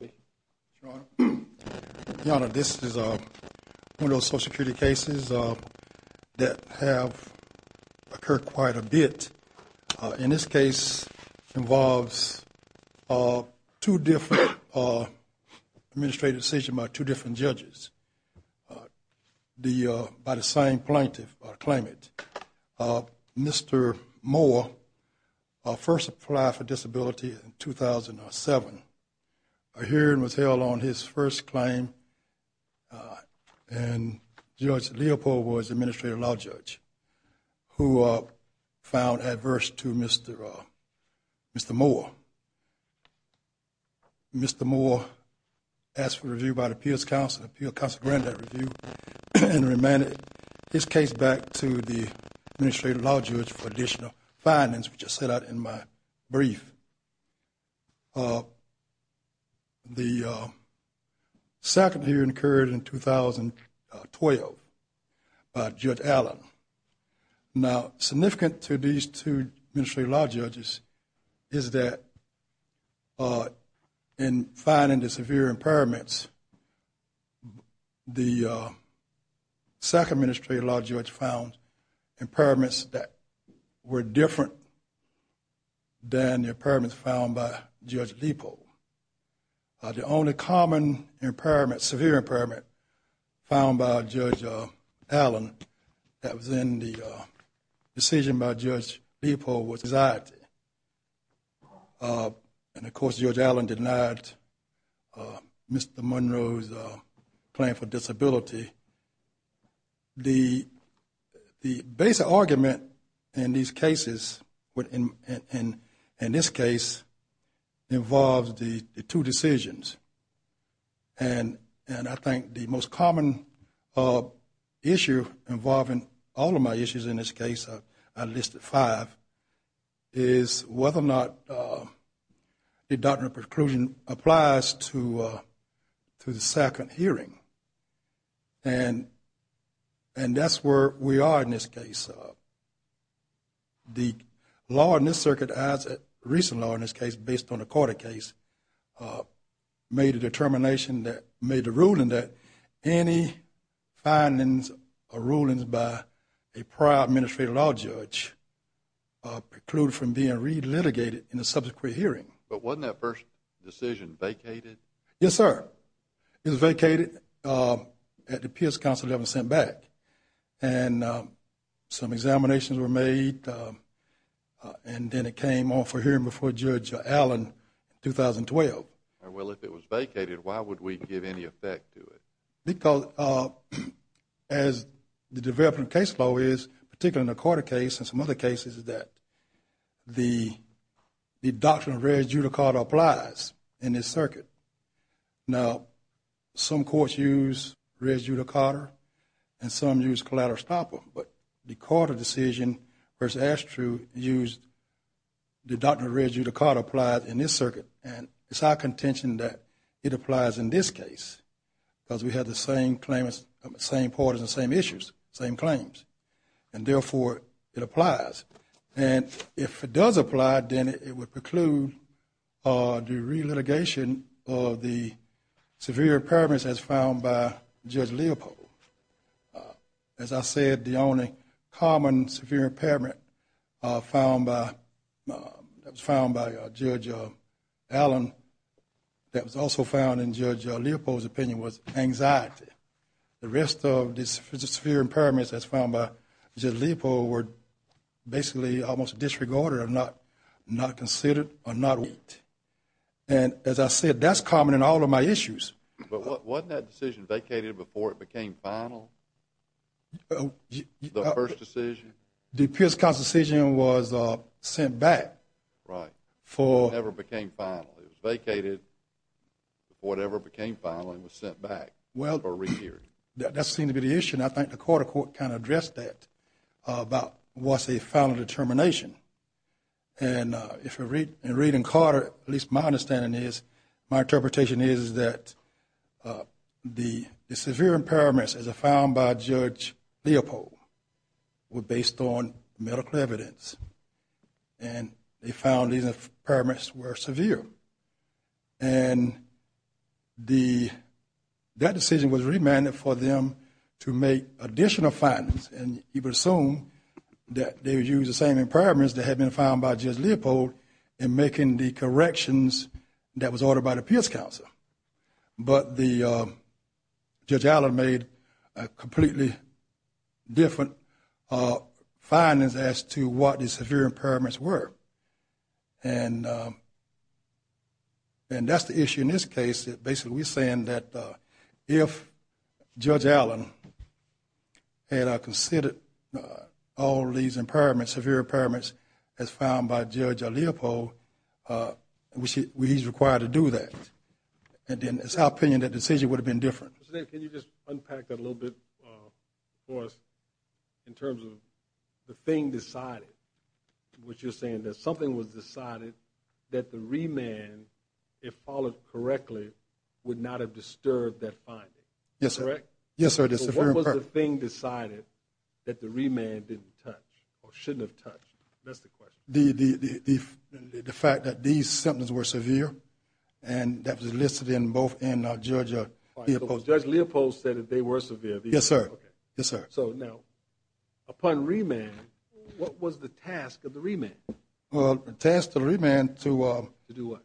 Your Honor, this is one of those social security cases that have occurred quite a bit. In this case, it involves two different administrative decisions by two different judges by the same plaintiff claiming it. Mr. Moore first applied for disability in 2007. A hearing was held on his first claim and Judge Leopold was the Administrative Law Judge who found adverse to Mr. Moore. Mr. Moore asked for review by the Appeals Counsel and Appeal Counsel granted that review and remanded his case back to the Administrative Law Judge for additional findings, which I set out in my brief. The second hearing occurred in 2012 by Judge Allen. Now, significant to these two Administrative Law Judges is that in finding the severe impairments, the second Administrative Law Judge found impairments that were different than the impairments found by Judge Leopold. The only common impairment, severe impairment, found by Judge Allen that was in the decision by Judge Leopold was anxiety. And of course, Judge Allen denied Mr. Monroe's claim for disability. The basic argument in these cases, in this case, involves the two decisions. And I think the most common issue involving all of my issues in this case, I listed five, is whether or not the doctrine of preclusion applies to the second hearing. And that's where we are in this case. The law in this circuit, the recent law in this case, based on the Carter case, made a determination, made a ruling that any findings or rulings by a prior Administrative Law Judge preclude from being re-litigated in the subsequent hearing. But wasn't that first decision vacated? Yes, sir. It was vacated at the Pierce Council that was sent back. And some examinations were made, and then it came on for hearing before Judge Allen in 2012. Well, if it was vacated, why would we give any effect to it? Because, as the development of case law is, particularly in the Carter case and some other cases, is that the doctrine of res judicata applies in this circuit. Now, some courts use res judicata, and some use collateral stopper. But the Carter decision versus Astru used the doctrine of res judicata applies in this circuit. And it's our contention that it applies in this case, because we have the same claimants, the same parties, the same issues, the same claims. And therefore, it applies. And if it does apply, then it would preclude the re-litigation of the severe impairments as found by Judge Leopold. As I said, the only common severe impairment found by Judge Allen that was also found in Judge Leopold's opinion was anxiety. The rest of the severe impairments as found by Judge Leopold were basically almost disregarded or not considered or not looked at. And, as I said, that's common in all of my issues. But wasn't that decision vacated before it became final, the first decision? The Pierce Court decision was sent back. Right. Before it ever became final. It was vacated before it ever became final and was sent back or re-heard. Well, that seems to be the issue. And I think the Carter court kind of addressed that about what's a final determination. And in reading Carter, at least my understanding is, my interpretation is that the severe impairments as found by Judge Leopold were based on medical evidence. And they found these impairments were severe. And that decision was remanded for them to make additional findings. And you would assume that they would use the same impairments that had been found by Judge Leopold in making the corrections that was ordered by the Pierce Counsel. But Judge Allen made a completely different findings as to what the severe impairments were. And that's the issue in this case. Basically, we're saying that if Judge Allen had considered all these impairments, severe impairments, as found by Judge Leopold, he's required to do that. And then it's our opinion that the decision would have been different. Mr. Davis, can you just unpack that a little bit for us in terms of the thing decided? Which you're saying that something was decided that the remand, if followed correctly, would not have disturbed that finding. Yes, sir. Correct? Yes, sir. So what was the thing decided that the remand didn't touch or shouldn't have touched? That's the question. The fact that these symptoms were severe and that was listed in both in Judge Leopold. Judge Leopold said that they were severe. Yes, sir. Yes, sir. So now, upon remand, what was the task of the remand? Well, the task of the remand to do what?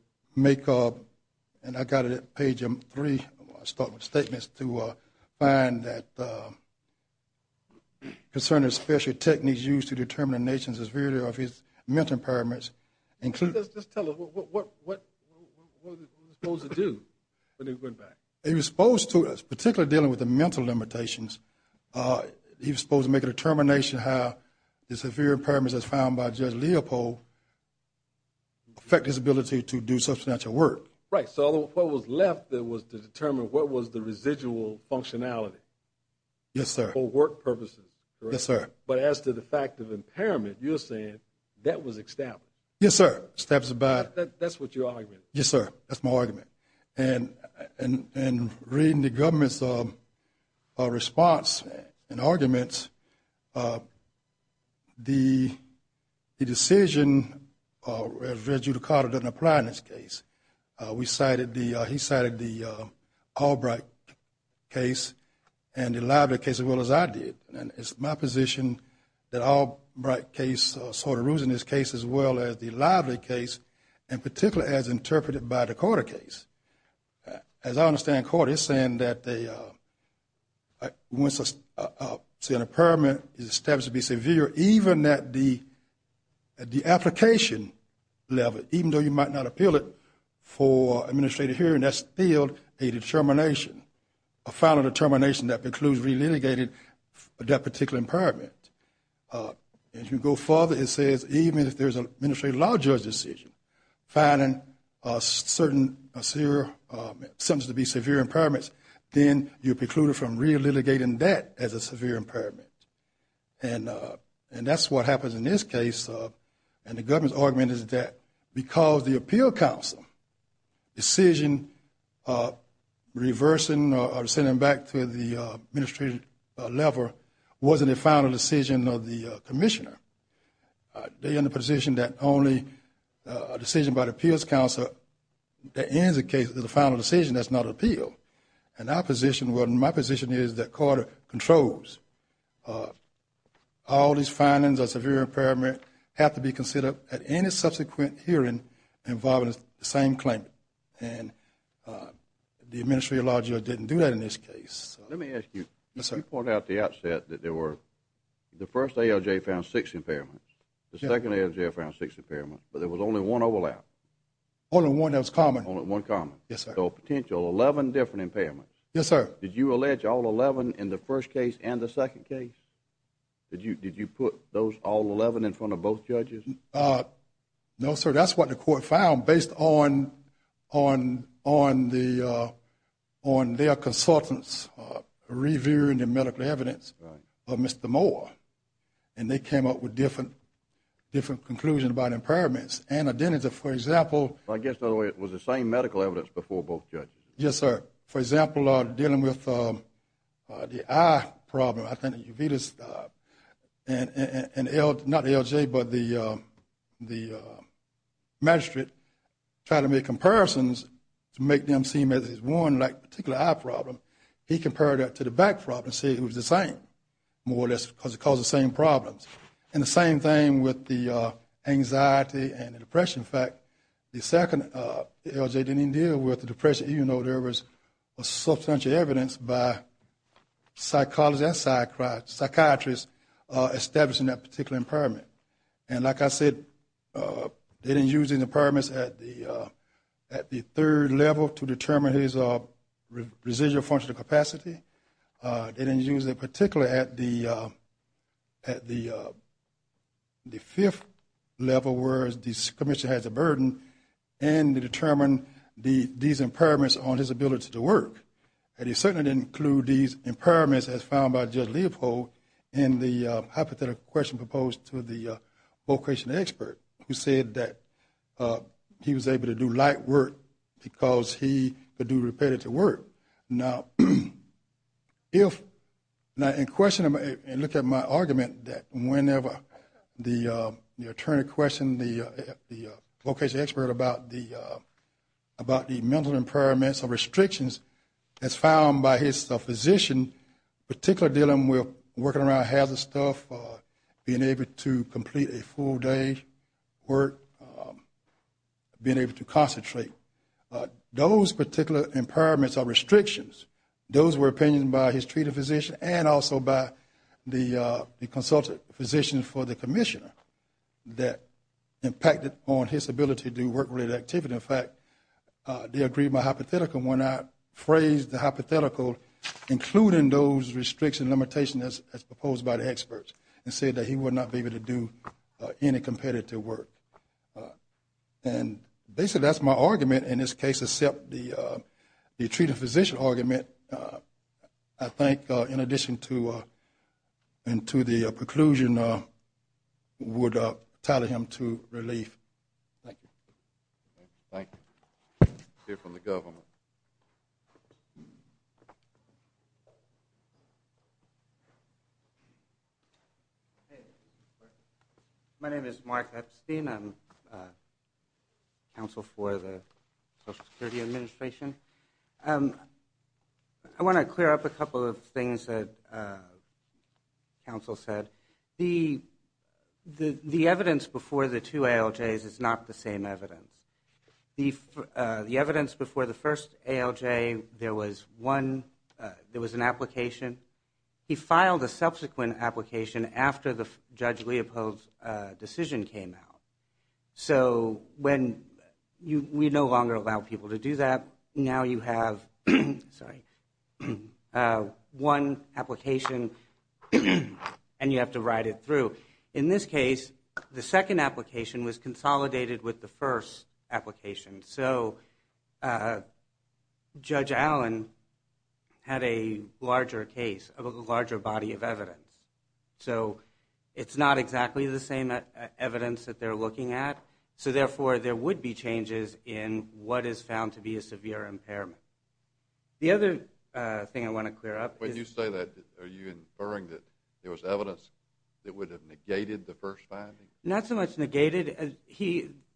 And I've got it at page three. I'll start with statements to find that concerning special techniques used to determine a nation's severity of mental impairments. Just tell us, what was he supposed to do when he went back? He was supposed to, particularly dealing with the mental limitations, he was supposed to make a determination how the severe impairments, as found by Judge Leopold, affect his ability to do substantial work. Right. So what was left was to determine what was the residual functionality. Yes, sir. For work purposes. Yes, sir. But as to the fact of impairment, you're saying that was established. Yes, sir. That's what your argument is. Yes, sir. That's my argument. And reading the government's response and arguments, the decision, as you recall, doesn't apply in this case. He cited the Albright case and the Lively case as well as I did. And it's my position that Albright case sort of rules in this case as well as the Lively case, and particularly as interpreted by the court of case. As I understand court, it's saying that once an impairment is established to be severe, even at the application level, even though you might not appeal it for administrative hearing, that's still a determination, a final determination that precludes re-litigating that particular impairment. As you go further, it says even if there's an administrative law judge decision, finding a certain sentence to be severe impairments, then you preclude it from re-litigating that as a severe impairment. And that's what happens in this case. And the government's argument is that because the appeal counsel decision reversing or sending them back to the administrative level wasn't a final decision of the commissioner, they're in the position that only a decision by the appeals counsel that ends the case is a final decision. That's not an appeal. And my position is that court controls all these findings of severe impairment have to be considered at any subsequent hearing involving the same claim. And the administrative law judge didn't do that in this case. Let me ask you. Yes, sir. You pointed out at the outset that the first ALJ found six impairments. The second ALJ found six impairments, but there was only one overlap. Only one that was common. Only one common. Yes, sir. So a potential 11 different impairments. Yes, sir. Did you allege all 11 in the first case and the second case? Did you put all 11 in front of both judges? No, sir. That's what the court found based on their consultants reviewing the medical evidence of Mr. Moore. And they came up with different conclusions about impairments. I guess, by the way, it was the same medical evidence before both judges. Yes, sir. For example, dealing with the eye problem, I think the magistrate tried to make comparisons to make them seem as if it was one particular eye problem. He compared that to the back problem and said it was the same, more or less, because it caused the same problems. And the same thing with the anxiety and the depression. In fact, the second ALJ didn't even deal with the depression, even though there was substantial evidence by psychologists and psychiatrists establishing that particular impairment. And like I said, they didn't use the impairments at the third level to determine his residual functional capacity. They didn't use them particularly at the fifth level, where the commissioner has a burden, and to determine these impairments on his ability to work. And they certainly didn't include these impairments as found by Judge Leopold in the hypothetical question proposed to the vocation expert, who said that he was able to do light work because he could do repetitive work. Now, in question, and look at my argument, that whenever the attorney questioned the vocation expert about the mental impairments or restrictions as found by his physician, particularly dealing with working around hazardous stuff, being able to complete a full day's work, being able to concentrate, those particular impairments or restrictions, those were opinioned by his treated physician and also by the consultant physician for the commissioner that impacted on his ability to do work-related activity. In fact, they agreed my hypothetical when I phrased the hypothetical, including those restrictions and limitations as proposed by the experts, and said that he would not be able to do any competitive work. And basically, that's my argument in this case, except the treated physician argument, I think, in addition to the preclusion, would tell him to leave. Thank you. Thank you. We'll hear from the government. Thank you. My name is Mark Epstein. I'm counsel for the Social Security Administration. I want to clear up a couple of things that counsel said. The evidence before the two ALJs is not the same evidence. The evidence before the first ALJ, there was one, there was an application. He filed a subsequent application after Judge Leopold's decision came out. So when we no longer allow people to do that, now you have one application and you have to ride it through. So in this case, the second application was consolidated with the first application. So Judge Allen had a larger case, a larger body of evidence. So it's not exactly the same evidence that they're looking at, so therefore there would be changes in what is found to be a severe impairment. The other thing I want to clear up is – Not so much negated.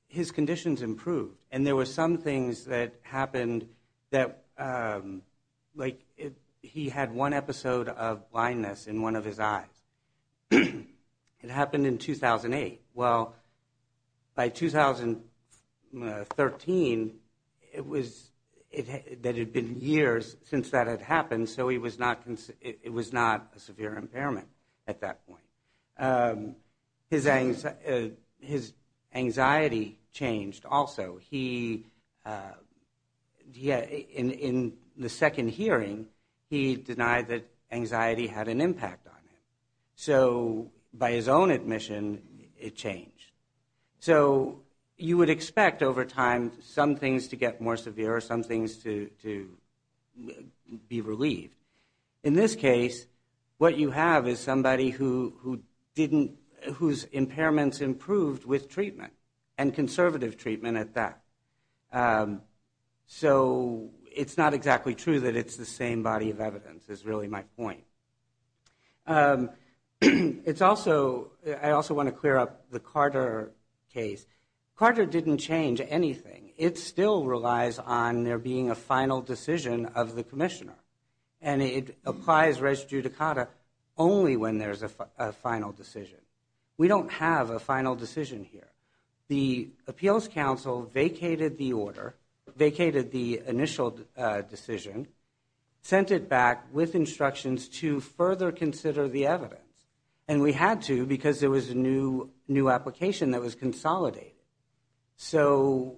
His conditions improved. And there were some things that happened that, like he had one episode of blindness in one of his eyes. It happened in 2008. Well, by 2013, it had been years since that had happened, so it was not a severe impairment at that point. His anxiety changed also. In the second hearing, he denied that anxiety had an impact on him. So by his own admission, it changed. So you would expect over time some things to get more severe, some things to be relieved. In this case, what you have is somebody whose impairments improved with treatment and conservative treatment at that. So it's not exactly true that it's the same body of evidence is really my point. I also want to clear up the Carter case. Carter didn't change anything. It still relies on there being a final decision of the commissioner, and it applies res judicata only when there's a final decision. We don't have a final decision here. The appeals council vacated the order, vacated the initial decision, sent it back with instructions to further consider the evidence, and we had to because there was a new application that was consolidated. So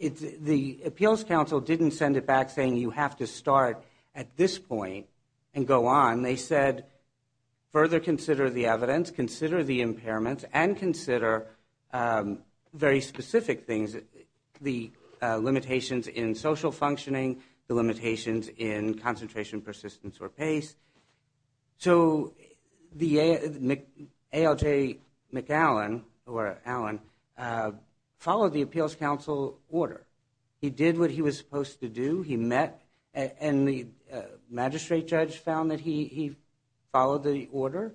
the appeals council didn't send it back saying you have to start at this point and go on. They said further consider the evidence, consider the impairments, and consider very specific things, the limitations in social functioning, the limitations in concentration, persistence, or pace. So ALJ McAllen followed the appeals council order. He did what he was supposed to do. And the magistrate judge found that he followed the order.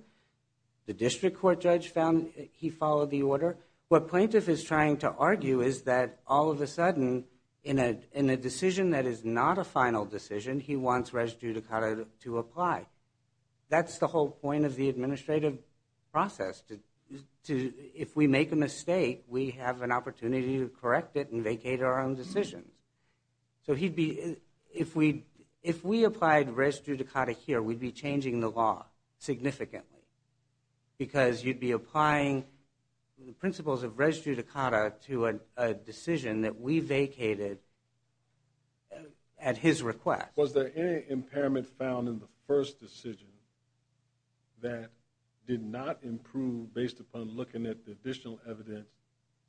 The district court judge found he followed the order. What plaintiff is trying to argue is that all of a sudden in a decision that is not a final decision, he wants res judicata to apply. That's the whole point of the administrative process. If we make a mistake, we have an opportunity to correct it and vacate our own decisions. So if we applied res judicata here, we'd be changing the law significantly because you'd be applying the principles of res judicata to a decision that we vacated at his request. Was there any impairment found in the first decision that did not improve based upon looking at the additional evidence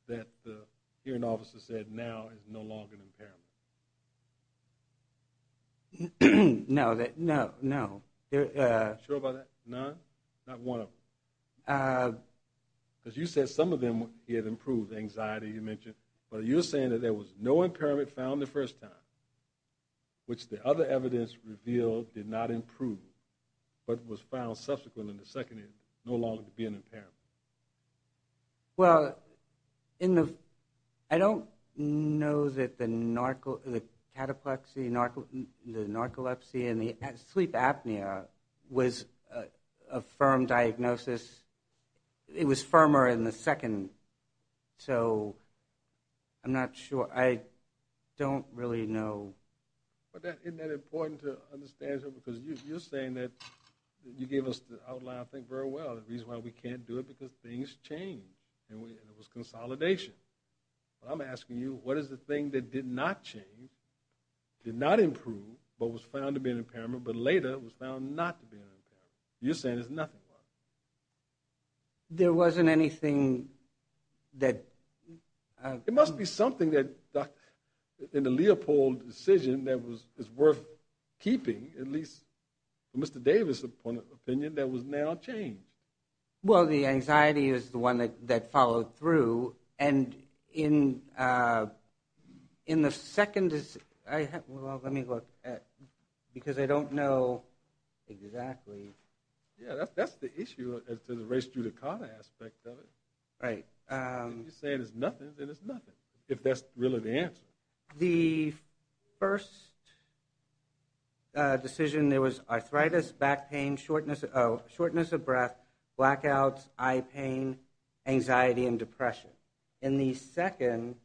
that the hearing officer said now is no longer an impairment? No. Are you sure about that? None? Not one of them? Because you said some of them improved, anxiety you mentioned, but you're saying that there was no impairment found the first time, which the other evidence revealed did not improve, but was found subsequent in the second no longer to be an impairment. Well, I don't know that the cataplexy, narcolepsy, and the sleep apnea was a firm diagnosis. It was firmer in the second. So I'm not sure. I don't really know. Isn't that important to understand? Because you're saying that you gave us the outline, I think, very well, the reason why we can't do it because things change, and it was consolidation. But I'm asking you, what is the thing that did not change, did not improve, but was found to be an impairment, but later was found not to be an impairment? You're saying there's nothing wrong. There wasn't anything that... It must be something in the Leopold decision that was worth keeping, at least from Mr. Davis' point of opinion, that was now changed. Well, the anxiety is the one that followed through, and in the second... Well, let me look, because I don't know exactly. Yeah, that's the issue as to the race judicata aspect of it. You say there's nothing, and there's nothing, if that's really the answer. The first decision, there was arthritis, back pain, shortness of breath, blackouts, eye pain, anxiety, and depression. In the second...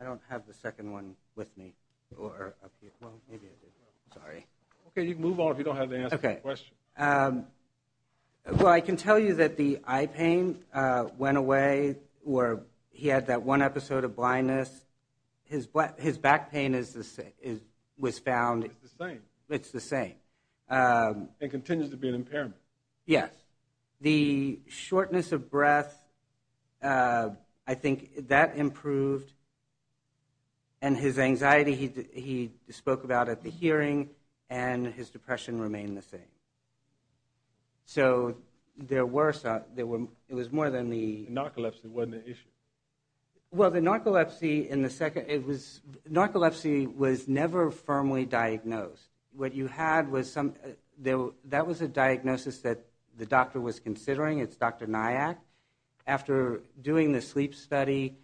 I don't have the second one with me. Sorry. Okay, you can move on if you don't have the answer to the question. Well, I can tell you that the eye pain went away, or he had that one episode of blindness. His back pain was found... It's the same. It's the same. It continues to be an impairment. Yes. The shortness of breath, I think that improved, and his anxiety, he spoke about at the hearing, and his depression remained the same. So there were... It was more than the... Narcolepsy wasn't an issue. Well, the narcolepsy in the second... Narcolepsy was never firmly diagnosed. What you had was some... That was a diagnosis that the doctor was considering. It's Dr. Nyack. After doing the sleep study,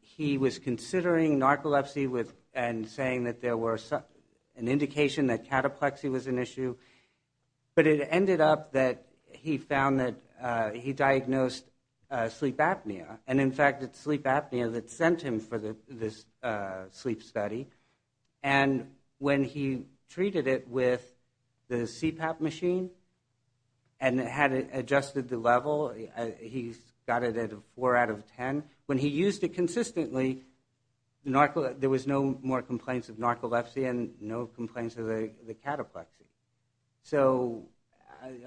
he was considering narcolepsy and saying that there was an indication that cataplexy was an issue, but it ended up that he found that he diagnosed sleep apnea, and, in fact, it's sleep apnea that sent him for this sleep study. And when he treated it with the CPAP machine and had it adjusted to level, he got it at a 4 out of 10. When he used it consistently, there was no more complaints of narcolepsy and no complaints of the cataplexy. So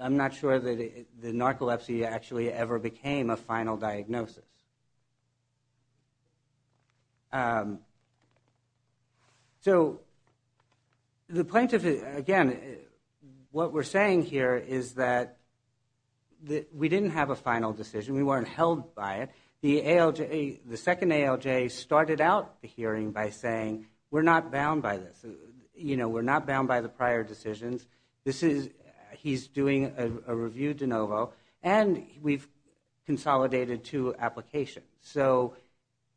I'm not sure that the narcolepsy actually ever became a final diagnosis. So the plaintiff... Again, what we're saying here is that we didn't have a final decision. We weren't held by it. The second ALJ started out the hearing by saying, we're not bound by this. You know, we're not bound by the prior decisions. He's doing a review de novo, and we've consolidated two applications. So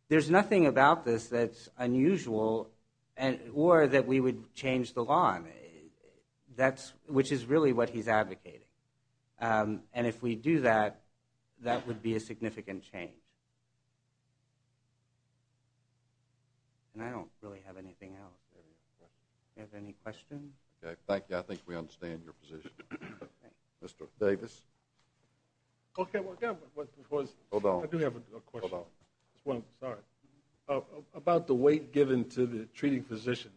there's nothing about this that's unusual or that we would change the law, which is really what he's advocating. And if we do that, that would be a significant change. And I don't really have anything else. Do you have any questions? Okay, thank you. I think we understand your position. Mr. Davis? Okay, well, again, what was... Hold on. Sorry. About the weight given to the treating physician,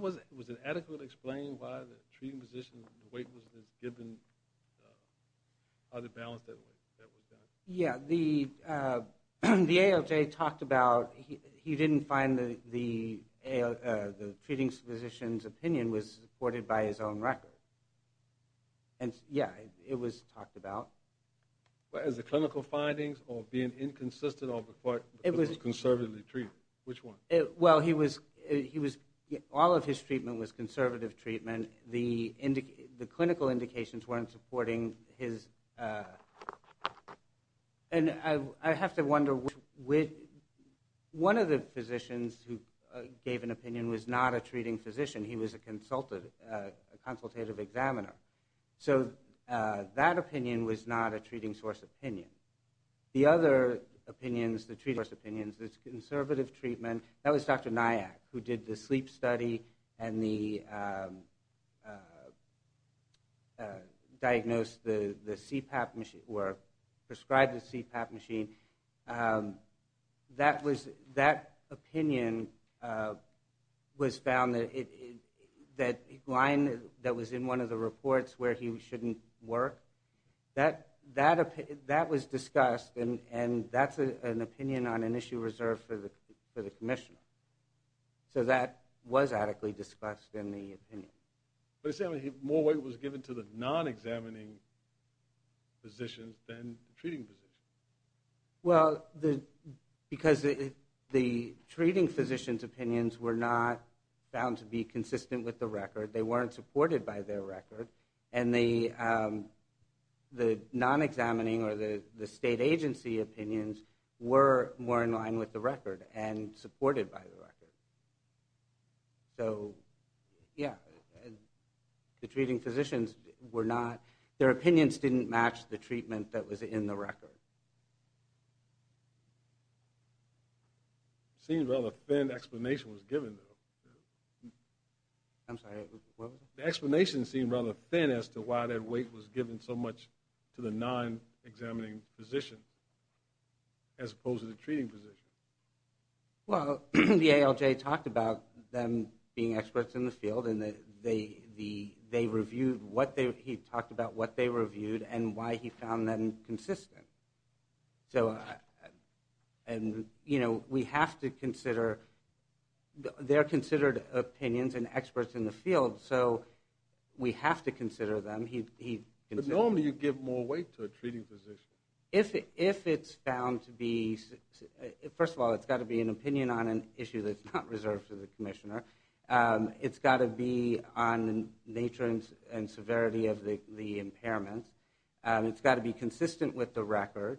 was it adequately explained why the treating physician's weight was given or the balance that was done? Yeah, the ALJ talked about he didn't find the treating physician's opinion was supported by his own record. And, yeah, it was talked about. As the clinical findings or being inconsistent or because it was conservatively treated? Which one? Well, all of his treatment was conservative treatment. The clinical indications weren't supporting his. And I have to wonder, one of the physicians who gave an opinion was not a treating physician. He was a consultative examiner. So that opinion was not a treating source opinion. The other opinions, the treating source opinions, the conservative treatment, that was Dr. Nayak, who did the sleep study and diagnosed the CPAP machine or prescribed the CPAP machine. That opinion was found that line that was in one of the reports where he shouldn't work. That was discussed, and that's an opinion on an issue reserved for the commissioner. So that was adequately discussed in the opinion. More weight was given to the non-examining physicians than the treating physicians. Well, because the treating physician's opinions were not found to be consistent with the record. They weren't supported by their record, and the non-examining or the state agency opinions were more in line with the record and supported by the record. So, yeah, the treating physicians were not. Their opinions didn't match the treatment that was in the record. It seems rather thin explanation was given, though. I'm sorry, what was that? The explanation seemed rather thin as to why that weight was given so much to the non-examining physician as opposed to the treating physician. Well, the ALJ talked about them being experts in the field, and he talked about what they reviewed and why he found them consistent. So, you know, we have to consider their considered opinions and experts in the field, so we have to consider them. But normally you give more weight to a treating physician. If it's found to be... First of all, it's got to be an opinion on an issue that's not reserved for the commissioner. It's got to be on nature and severity of the impairment. It's got to be consistent with the record,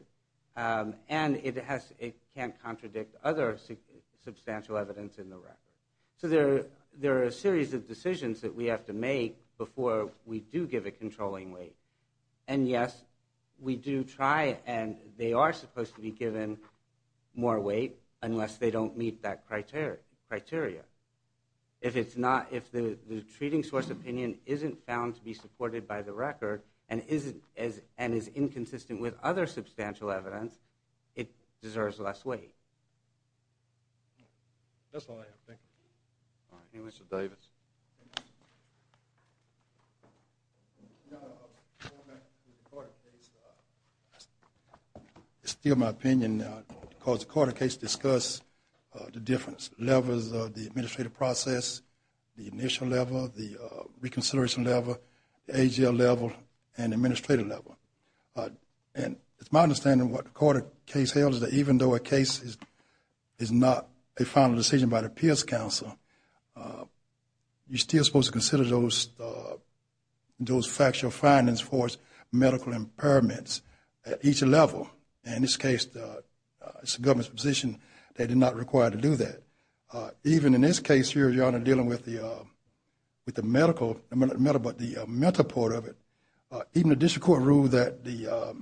and it can't contradict other substantial evidence in the record. So there are a series of decisions that we have to make before we do give a controlling weight. And, yes, we do try, and they are supposed to be given more weight unless they don't meet that criteria. If the treating source opinion isn't found to be supported by the record and is inconsistent with other substantial evidence, it deserves less weight. That's all I have. Thank you. Mr. Davis. It's still my opinion because the court of case discuss the difference. Levels of the administrative process, the initial level, the reconsideration level, the AGL level, and the administrative level. And it's my understanding what the court of case held is that even though a case is not a final decision by the appeals counsel, you're still supposed to consider those factual findings for medical impairments at each level. In this case, it's the government's position they're not required to do that. Even in this case here, Your Honor, dealing with the medical, but the mental part of it, even the district court ruled that the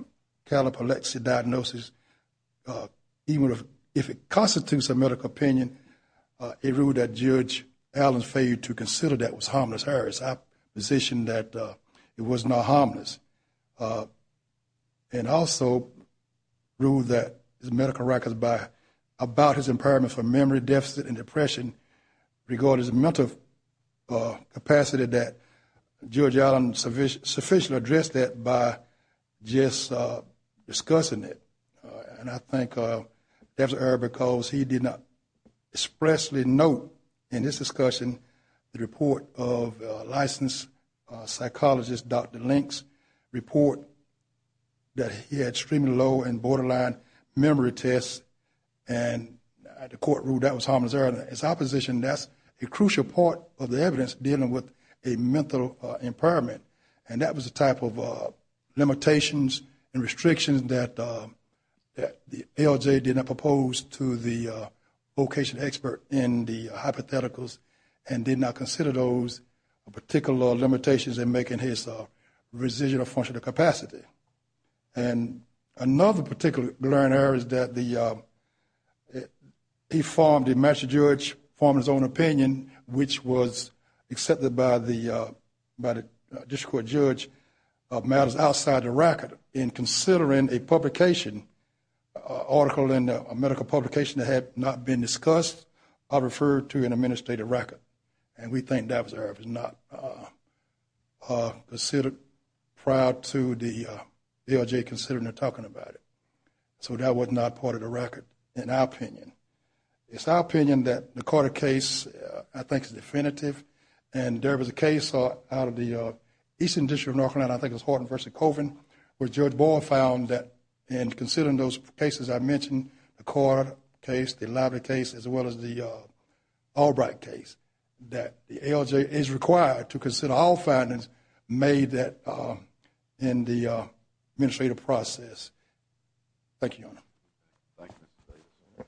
calipolepsy diagnosis, even if it constitutes a medical opinion, it ruled that Judge Allen's failure to consider that was harmless. Her position that it was not harmless. And also ruled that the medical records about his impairment for memory deficit and depression regardless of mental capacity that Judge Allen sufficiently addressed that by just discussing it. And I think that's because he did not expressly note in this discussion the report of licensed psychologist, Dr. Links, report that he had extremely low and borderline memory tests. And the court ruled that was harmless. In his opposition, that's a crucial part of the evidence dealing with a mental impairment. And that was a type of limitations and restrictions that the ALJ did not propose to the vocation expert in the hypotheticals and did not consider those particular limitations in making his residual function of capacity. And another particular glaring error is that he formed, the master judge formed his own opinion, which was accepted by the district court judge of matters outside the record. In considering a publication, article in a medical publication that had not been discussed, I refer to an administrative record. And we think that was an error. It was not considered prior to the ALJ considering or talking about it. So that was not part of the record in our opinion. It's our opinion that the Carter case, I think, is definitive. And there was a case out of the Eastern District of North Carolina, I think it was Horton v. Colvin, where Judge Boyle found that in considering those cases I mentioned, the Carter case, the Lively case, as well as the Albright case, that the ALJ is required to consider all findings made in the administrative process. Thank you, Your Honor. Thank you.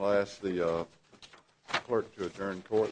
I'll ask the clerk to adjourn court.